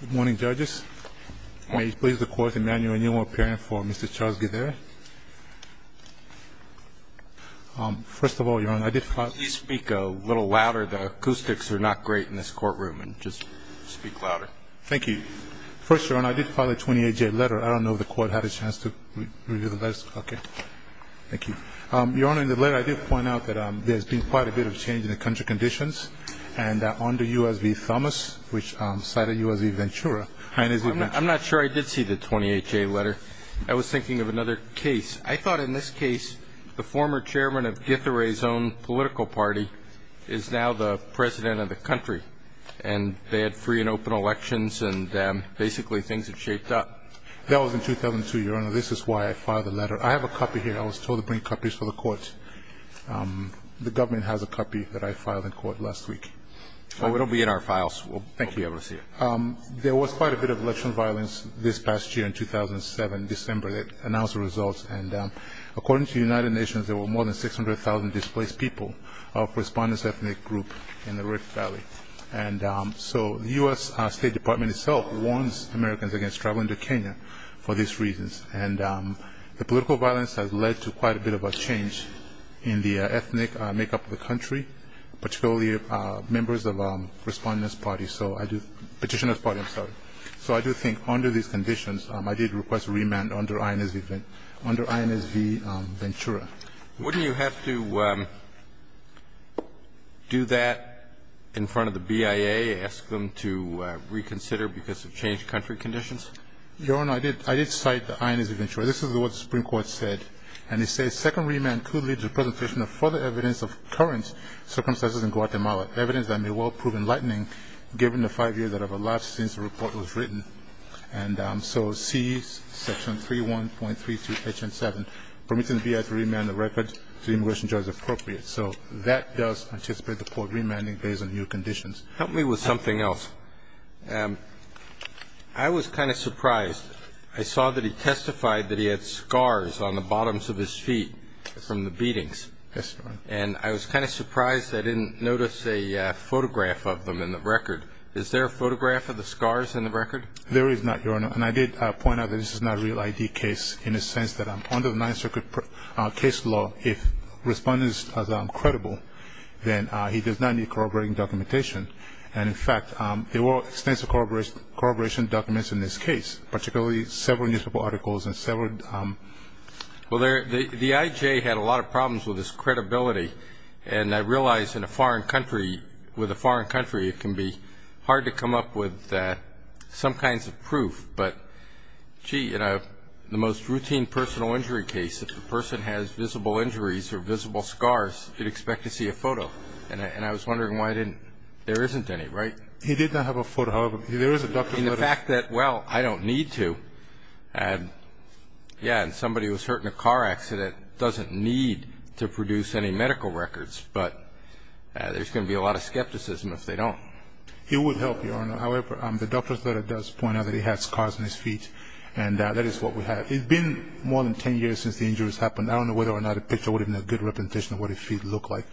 Good morning, judges. May you please record the manual appearing for Mr. Charles Githere. First of all, Your Honor, I did file... Please speak a little louder. The acoustics are not great in this courtroom, and just speak louder. Thank you. First, Your Honor, I did file a 28-J letter. I don't know if the court had a chance to review the letter. Okay. Thank you. Your Honor, in the letter I did point out that there's been quite a bit of change in the country conditions. And under U.S. v. Thomas, which cited U.S. v. Ventura... I'm not sure I did see the 28-J letter. I was thinking of another case. I thought in this case the former chairman of Githere's own political party is now the president of the country. And they had free and open elections, and basically things have shaped up. That was in 2002, Your Honor. This is why I filed the letter. I have a copy here. I was told to bring copies for the court. The government has a copy that I filed in court last week. Oh, it'll be in our files. We'll thank you, Your Honor. There was quite a bit of election violence this past year in 2007, December, that announced the results. And according to the United Nations, there were more than 600,000 displaced people of respondents' ethnic group in the Red Valley. And so the U.S. State Department itself warns Americans against traveling to Kenya for these reasons. And the political violence has led to quite a bit of a change in the ethnic makeup of the country, particularly members of respondents' party, petitioners' party, I'm sorry. So I do think under these conditions, I did request a remand under INS v. Ventura. Wouldn't you have to do that in front of the BIA, ask them to reconsider because of changed country conditions? Your Honor, I did cite the INS v. Ventura. This is what the Supreme Court said. And it says, Second remand could lead to the presentation of further evidence of current circumstances in Guatemala, evidence that may well prove enlightening given the five years that have elapsed since the report was written. And so C, Section 3.1.3.2 H.N. 7, permitting the BIA to remand the record to the immigration judge appropriate. So that does anticipate the court remanding based on new conditions. Help me with something else. Your Honor, I was kind of surprised. I saw that he testified that he had scars on the bottoms of his feet from the beatings. Yes, Your Honor. And I was kind of surprised I didn't notice a photograph of them in the record. Is there a photograph of the scars in the record? There is not, Your Honor. And I did point out that this is not a real ID case in the sense that under the Ninth Circuit case law, if respondents are credible, then he does not need corroborating documentation. And, in fact, there were extensive corroboration documents in this case, particularly several newspaper articles and several... Well, the IJ had a lot of problems with his credibility. And I realize in a foreign country, with a foreign country, it can be hard to come up with some kinds of proof. But, gee, in the most routine personal injury case, if the person has visible injuries or visible scars, you'd expect to see a photo. And I was wondering why I didn't... there isn't any, right? He did not have a photo. However, there is a doctor's letter. In the fact that, well, I don't need to. Yeah, and somebody who was hurt in a car accident doesn't need to produce any medical records. But there's going to be a lot of skepticism if they don't. It would help, Your Honor. However, the doctor's letter does point out that he has scars on his feet. And that is what we have. It's been more than 10 years since the injuries happened. I don't know whether or not a picture would have been a good representation of what his feet look like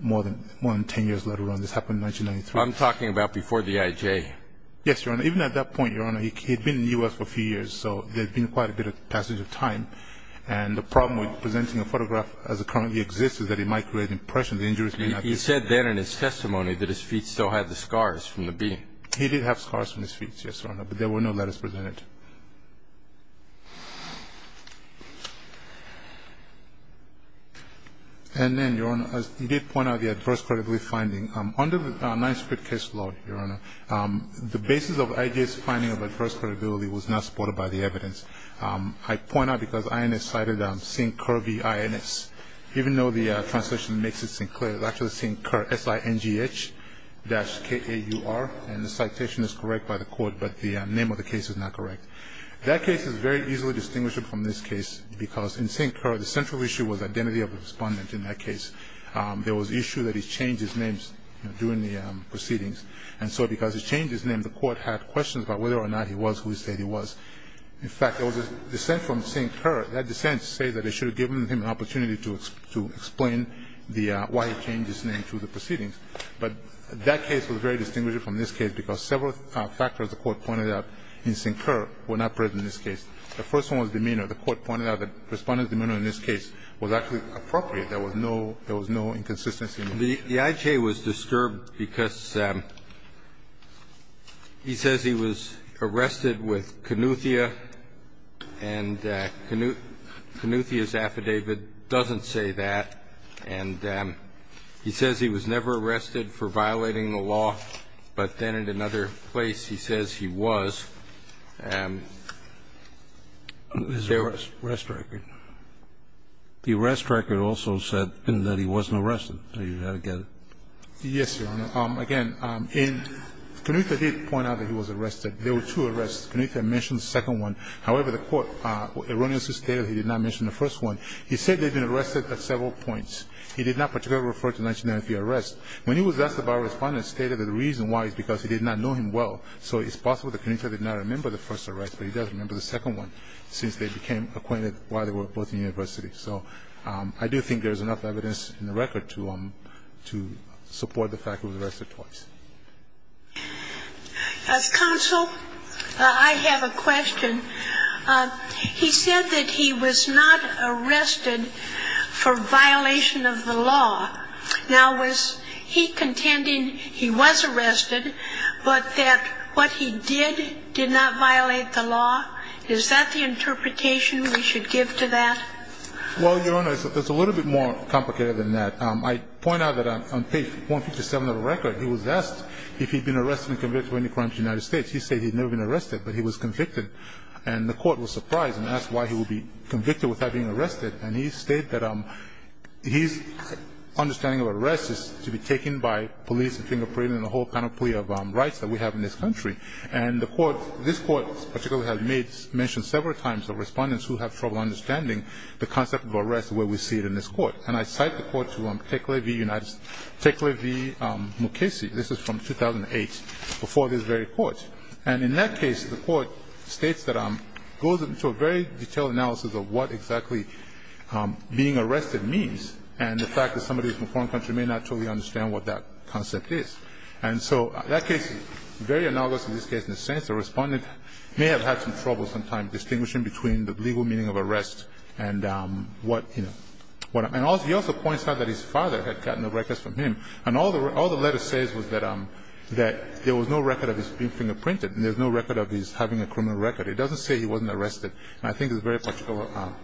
more than 10 years later. This happened in 1993. I'm talking about before the IJ. Yes, Your Honor. Even at that point, Your Honor, he had been in the U.S. for a few years. So there had been quite a bit of passage of time. And the problem with presenting a photograph as it currently exists is that it might create an impression. The injuries may not be... He said then in his testimony that his feet still had the scars from the beating. He did have scars from his feet, yes, Your Honor. But there were no letters presented. And then, Your Honor, you did point out the adverse credibility finding. Under the Ninth Street case law, Your Honor, the basis of IJ's finding of adverse credibility was not supported by the evidence. I point out because INS cited St. Kerr v. INS. Even though the translation makes it seem clear, it's actually St. Kerr, S-I-N-G-H dash K-A-U-R. And the citation is correct by the court, but the name of the case is not correct. That case is very easily distinguished from this case because in St. Kerr, the central issue was identity of the respondent in that case. There was an issue that he changed his name during the proceedings. And so because he changed his name, the court had questions about whether or not he was who he said he was. In fact, there was a dissent from St. Kerr. That dissent said that they should have given him an opportunity to explain why he changed his name through the proceedings. But that case was very distinguished from this case because several factors, the court pointed out, in St. Kerr were not present in this case. The first one was demeanor. The court pointed out that the respondent's demeanor in this case was actually appropriate. There was no inconsistency. The IJ was disturbed because he says he was arrested with Kanuthia, and Kanuthia's was arrested for violating the law. But then in another place he says he was. And there was a rest record. The rest record also said that he wasn't arrested. You've got to get it. Yes, Your Honor. Again, Kanuthia did point out that he was arrested. There were two arrests. Kanuthia mentioned the second one. However, the court erroneously stated he did not mention the first one. He said they had been arrested at several points. He did not particularly refer to the 1993 arrest. When he was asked about it, the respondent stated that the reason why is because he did not know him well. So it's possible that Kanuthia did not remember the first arrest, but he does remember the second one since they became acquainted while they were both in university. So I do think there is enough evidence in the record to support the fact that he was arrested twice. As counsel, I have a question. He said that he was not arrested for violation of the law. Now, was he contending he was arrested, but that what he did did not violate the law? Is that the interpretation we should give to that? Well, Your Honor, it's a little bit more complicated than that. I point out that on page 157 of the record, he was asked if he had been arrested and convicted of any crimes in the United States. He said he had never been arrested, but he was convicted. And the court was surprised and asked why he would be convicted without being arrested. And he stated that his understanding of arrest is to be taken by police and fingerprinting and the whole panoply of rights that we have in this country. And the court, this court in particular, has mentioned several times to respondents who have trouble understanding the concept of arrest the way we see it in this court. And I cite the court to Tekle V. Mukasey. This is from 2008, before this very court. And in that case, the court states that it goes into a very detailed analysis of what exactly being arrested means and the fact that somebody from a foreign country may not totally understand what that concept is. And so that case is very analogous to this case in a sense. The respondent may have had some trouble sometimes distinguishing between the legal meaning of arrest and what, you know. And he also points out that his father had gotten the records from him. And all the letter says was that there was no record of his being fingerprinted and there's no record of his having a criminal record. It doesn't say he wasn't arrested. And I think it's a very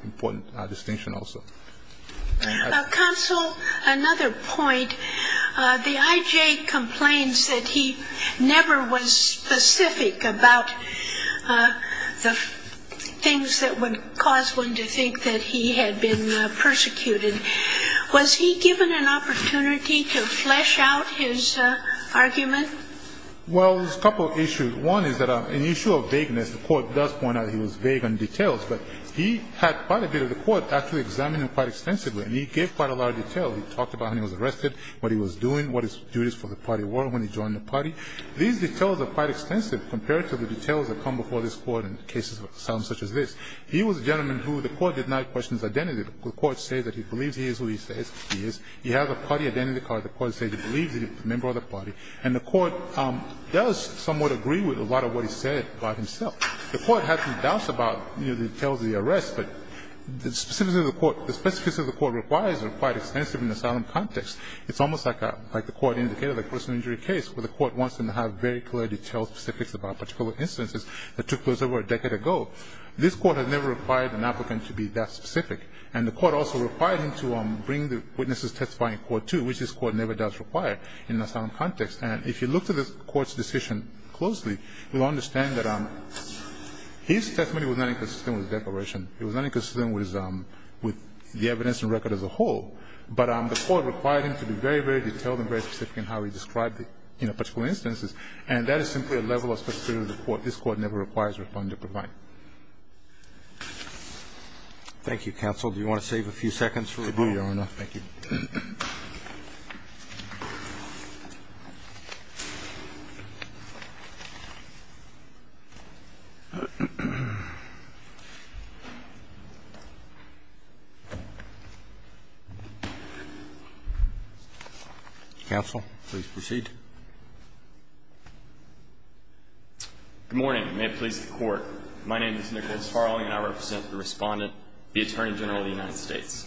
important distinction also. Counsel, another point. The I.J. complains that he never was specific about the things that would cause one to think that he had been persecuted. Was he given an opportunity to flesh out his argument? Well, there's a couple of issues. One is that an issue of vagueness. The court does point out he was vague on details. But he had quite a bit of the court actually examine him quite extensively. And he gave quite a lot of detail. He talked about how he was arrested, what he was doing, what his duties for the party were when he joined the party. These details are quite extensive compared to the details that come before this He was a gentleman who the court did not question his identity. The court says that he believes he is who he says he is. He has a party identity card. The court says he believes that he's a member of the party. And the court does somewhat agree with a lot of what he said by himself. The court has some doubts about, you know, the details of the arrest. But the specifics of the court requires are quite extensive in the asylum context. It's almost like the court indicated the personal injury case where the court wants them to have very clear detailed specifics about particular instances that took place over a decade ago. This court has never required an applicant to be that specific. And the court also required him to bring the witnesses testifying in court, too, which this court never does require in an asylum context. And if you look at the court's decision closely, you'll understand that his testimony was not inconsistent with the declaration. It was not inconsistent with the evidence and record as a whole. But the court required him to be very, very detailed and very specific in how he described it in a particular instance. Thank you, counsel. Do you want to save a few seconds for rebuttal, Your Honor? Thank you. Counsel, please proceed. Good morning. May it please the Court. My name is Nicholas Farley, and I represent the Respondent, the Attorney General of the United States.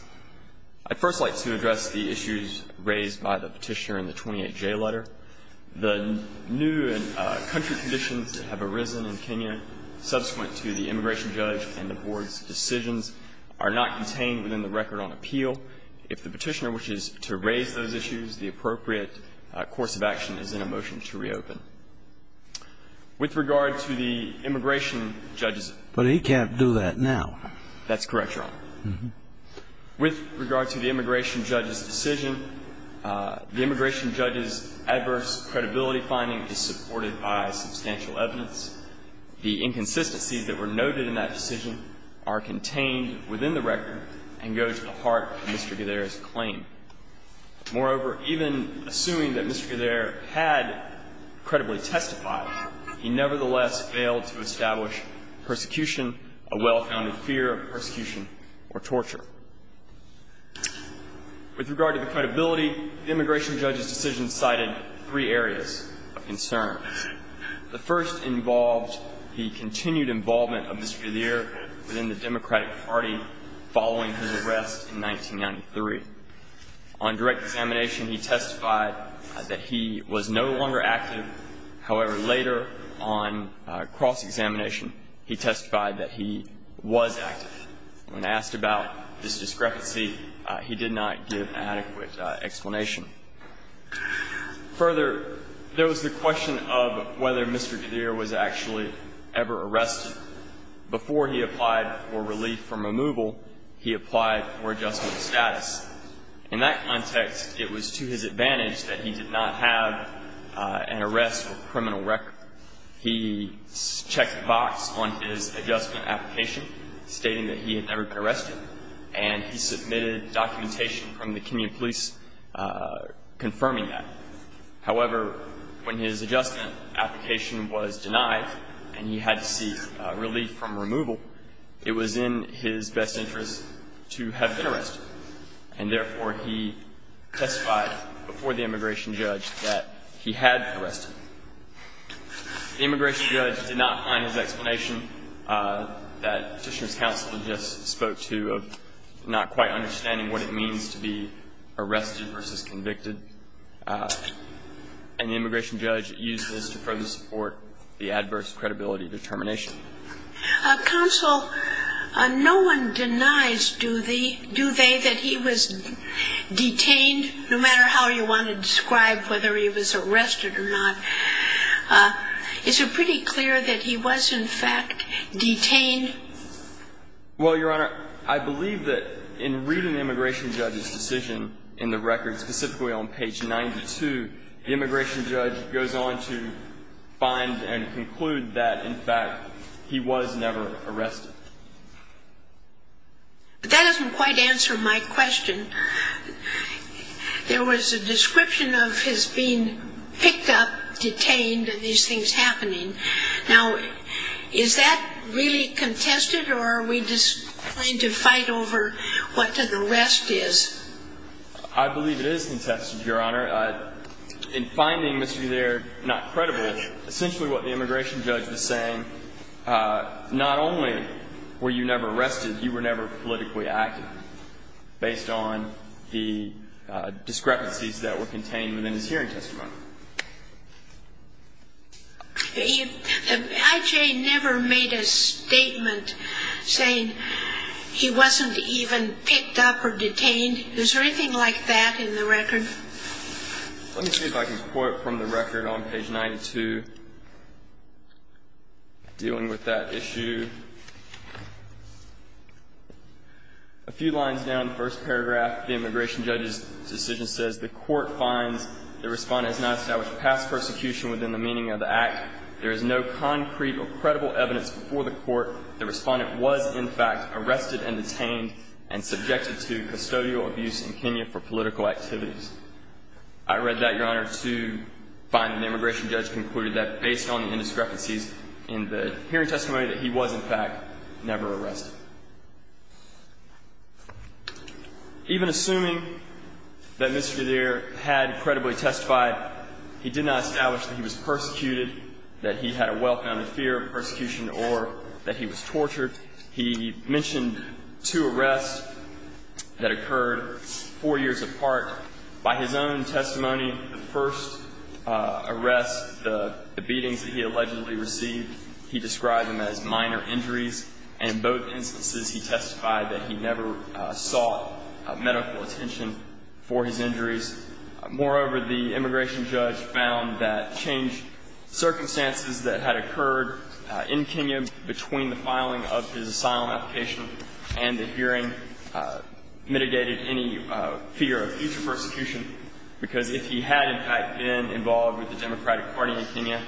I'd first like to address the issues raised by the Petitioner in the 28J letter. The new country conditions that have arisen in Kenya subsequent to the immigration judge and the Board's decisions are not contained within the record on appeal. If the Petitioner wishes to raise those issues, the appropriate course of action is in a motion to reopen. With regard to the immigration judge's decision. But he can't do that now. That's correct, Your Honor. With regard to the immigration judge's decision, the immigration judge's adverse credibility finding is supported by substantial evidence. The inconsistencies that were noted in that decision are contained within the record Moreover, even assuming that Mr. Gadhere had credibly testified, he nevertheless failed to establish persecution, a well-founded fear of persecution or torture. With regard to the credibility, the immigration judge's decision cited three areas of concern. The first involved the continued involvement of Mr. Gadhere within the Democratic Party following his arrest in 1993. On direct examination, he testified that he was no longer active. However, later on cross-examination, he testified that he was active. When asked about this discrepancy, he did not give adequate explanation. Further, there was the question of whether Mr. Gadhere was actually ever arrested Before he applied for relief from removal, he applied for adjustment status. In that context, it was to his advantage that he did not have an arrest or criminal record. He checked the box on his adjustment application stating that he had never been arrested, and he submitted documentation from the Kenyan police confirming that. However, when his adjustment application was denied and he had to seek relief from removal, it was in his best interest to have been arrested. And therefore, he testified before the immigration judge that he had been arrested. The immigration judge did not find his explanation that Petitioner's counsel had just spoke to of not quite understanding what it means to be arrested versus convicted. And the immigration judge used this to further support the adverse credibility determination. Counsel, no one denies, do they, that he was detained, no matter how you want to describe whether he was arrested or not? Is it pretty clear that he was, in fact, detained? Well, Your Honor, I believe that in reading the immigration judge's decision in the record, specifically on page 92, the immigration judge goes on to find and conclude that, in fact, he was never arrested. But that doesn't quite answer my question. There was a description of his being picked up, detained, and these things happening. Now, is that really contested, or are we just going to fight over what the rest is? I believe it is contested, Your Honor. In finding Mr. Gilear not credible, essentially what the immigration judge was saying, not only were you never arrested, you were never politically active, based on the discrepancies that were contained within his hearing testimony. I.J. never made a statement saying he wasn't even picked up or detained. Is there anything like that in the record? Let me see if I can quote from the record on page 92, dealing with that issue. A few lines down. The first paragraph of the immigration judge's decision says, I read that, Your Honor, to find that the immigration judge concluded that, based on the indiscrepancies in the hearing testimony, that he was, in fact, never arrested. Mr. Gilear had credibly testified he did not establish that he was persecuted, that he had a well-founded fear of persecution, or that he was tortured. He mentioned two arrests that occurred four years apart. By his own testimony, the first arrest, the beatings that he allegedly received, he described them as minor injuries. And in both instances, he testified that he never sought medical attention for his injuries. Moreover, the immigration judge found that changed circumstances that had occurred in Kenya between the filing of his asylum application and the hearing mitigated any fear of future persecution, because if he had, in fact, been involved with the Democratic Party in Kenya,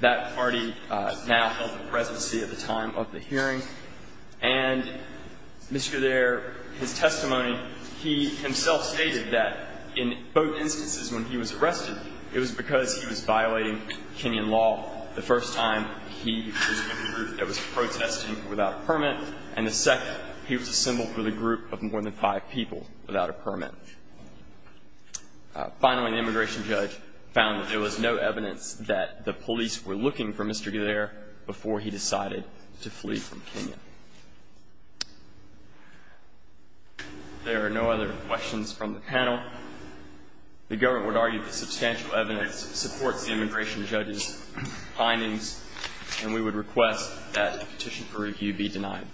that party now held the presidency at the time of the hearing. And Mr. Gilear, his testimony, he himself stated that in both instances when he was arrested, it was because he was violating Kenyan law. The first time, he was with a group that was protesting without a permit. And the second, he was a symbol for the group of more than five people without a permit. Finally, the immigration judge found that there was no evidence that the police were looking for Mr. Gilear before he decided to flee from Kenya. There are no other questions from the panel. The government would argue that substantial evidence supports the immigration judge's findings, and we would request that the petition for review be denied.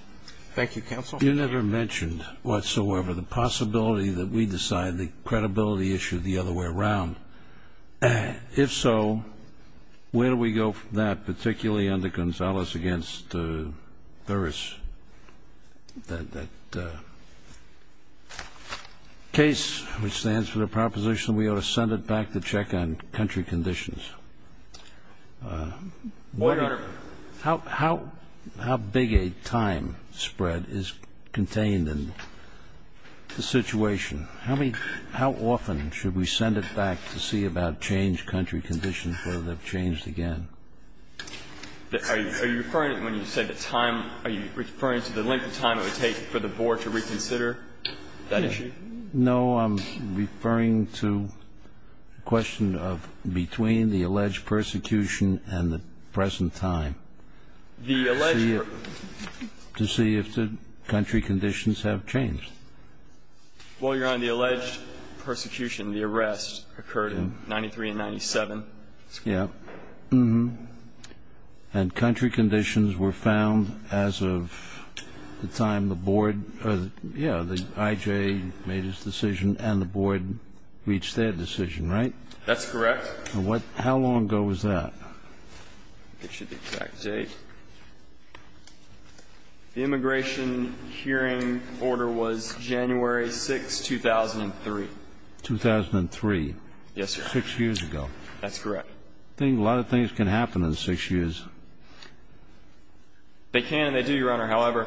Thank you, counsel. You never mentioned whatsoever the possibility that we decide the credibility issue the other way around. If so, where do we go from that, particularly under Gonzales against Thuris, that case which stands for the proposition we ought to send it back to check on country conditions? How big a time spread is contained in the situation? How often should we send it back to see about changed country conditions, whether they've changed again? Are you referring, when you say the time, are you referring to the length of time it would take for the board to reconsider that issue? No. I'm referring to the question of between the alleged persecution and the present time. The alleged per... To see if the country conditions have changed. Well, Your Honor, the alleged persecution, the arrest occurred in 93 and 97. Yeah. And country conditions were found as of the time the board, yeah, the IJ made his decision and the board reached their decision, right? That's correct. How long ago was that? I'll get you the exact date. The immigration hearing order was January 6, 2003. 2003. Yes, sir. Six years ago. That's correct. I think a lot of things can happen in six years. They can and they do, Your Honor. However,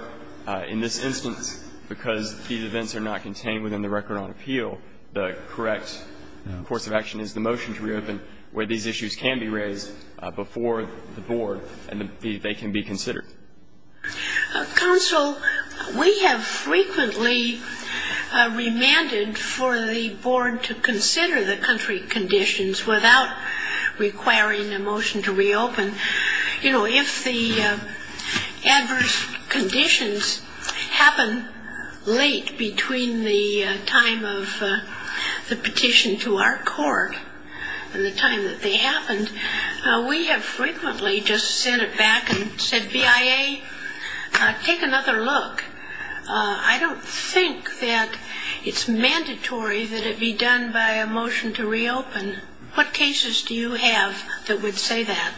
in this instance, because these events are not contained within the record on appeal, the correct course of action is the motion to reopen where these issues can be raised before the board and they can be considered. Counsel, we have frequently remanded for the board to consider the country conditions without requiring a motion to reopen. You know, if the adverse conditions happen late between the time of the petition to our court and the time that they happened, we have frequently just sent it back and said, BIA, take another look. I don't think that it's mandatory that it be done by a motion to reopen. What cases do you have that would say that?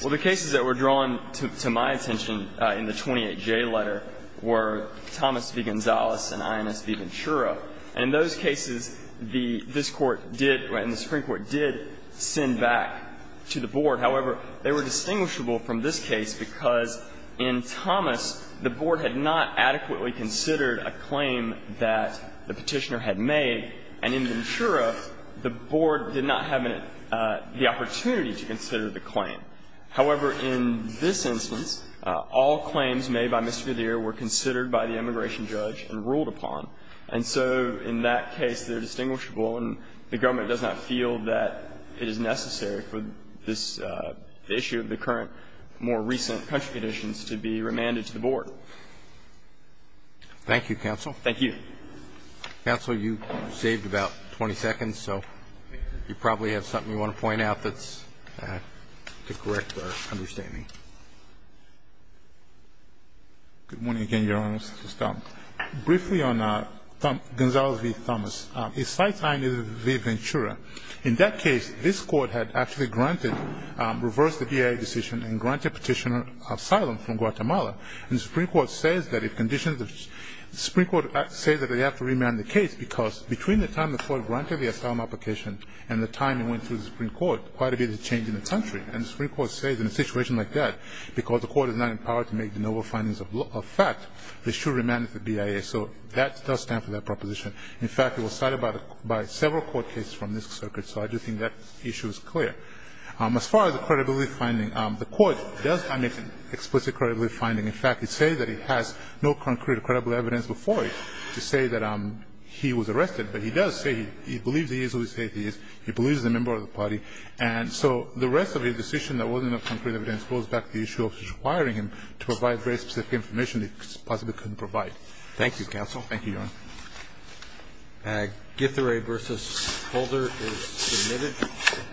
Well, the cases that were drawn to my attention in the 28J letter were Thomas v. Medeiros. And the Supreme Court did send back to the board. However, they were distinguishable from this case because in Thomas, the board had not adequately considered a claim that the Petitioner had made, and in Ventura, the board did not have the opportunity to consider the claim. However, in this instance, all claims made by Mr. Medeiros were considered by the immigration judge and ruled upon. And so in that case, they're distinguishable, and the government does not feel that it is necessary for this issue of the current, more recent country conditions to be remanded to the board. Thank you, counsel. Thank you. Counsel, you saved about 20 seconds, so you probably have something you want to point out that's to correct our understanding. Good morning again, Your Honor. Mr. Stone. Briefly on Gonzalo v. Thomas. In that case, this court had actually granted, reversed the DIA decision and granted Petitioner asylum from Guatemala. And the Supreme Court says that if conditions, the Supreme Court says that they have to remand the case because between the time the court granted the asylum application and the time it went through the Supreme Court, quite a bit has changed in the country. And the Supreme Court says in a situation like that, because the court is not empowered to make the noble findings of fact, they should remand it to the DIA. So that does stand for that proposition. In fact, it was cited by several court cases from this circuit, so I do think that issue is clear. As far as the credibility finding, the court does omit explicit credibility finding. In fact, it says that it has no concrete credible evidence before it to say that he was arrested. But he does say he believes he is who he says he is. He believes he's a member of the party. And so the rest of his decision that wasn't of concrete evidence goes back to the issue of requiring him to provide very specific information he possibly couldn't provide. Thank you, counsel. Thank you, Your Honor. Githire versus Holder is submitted.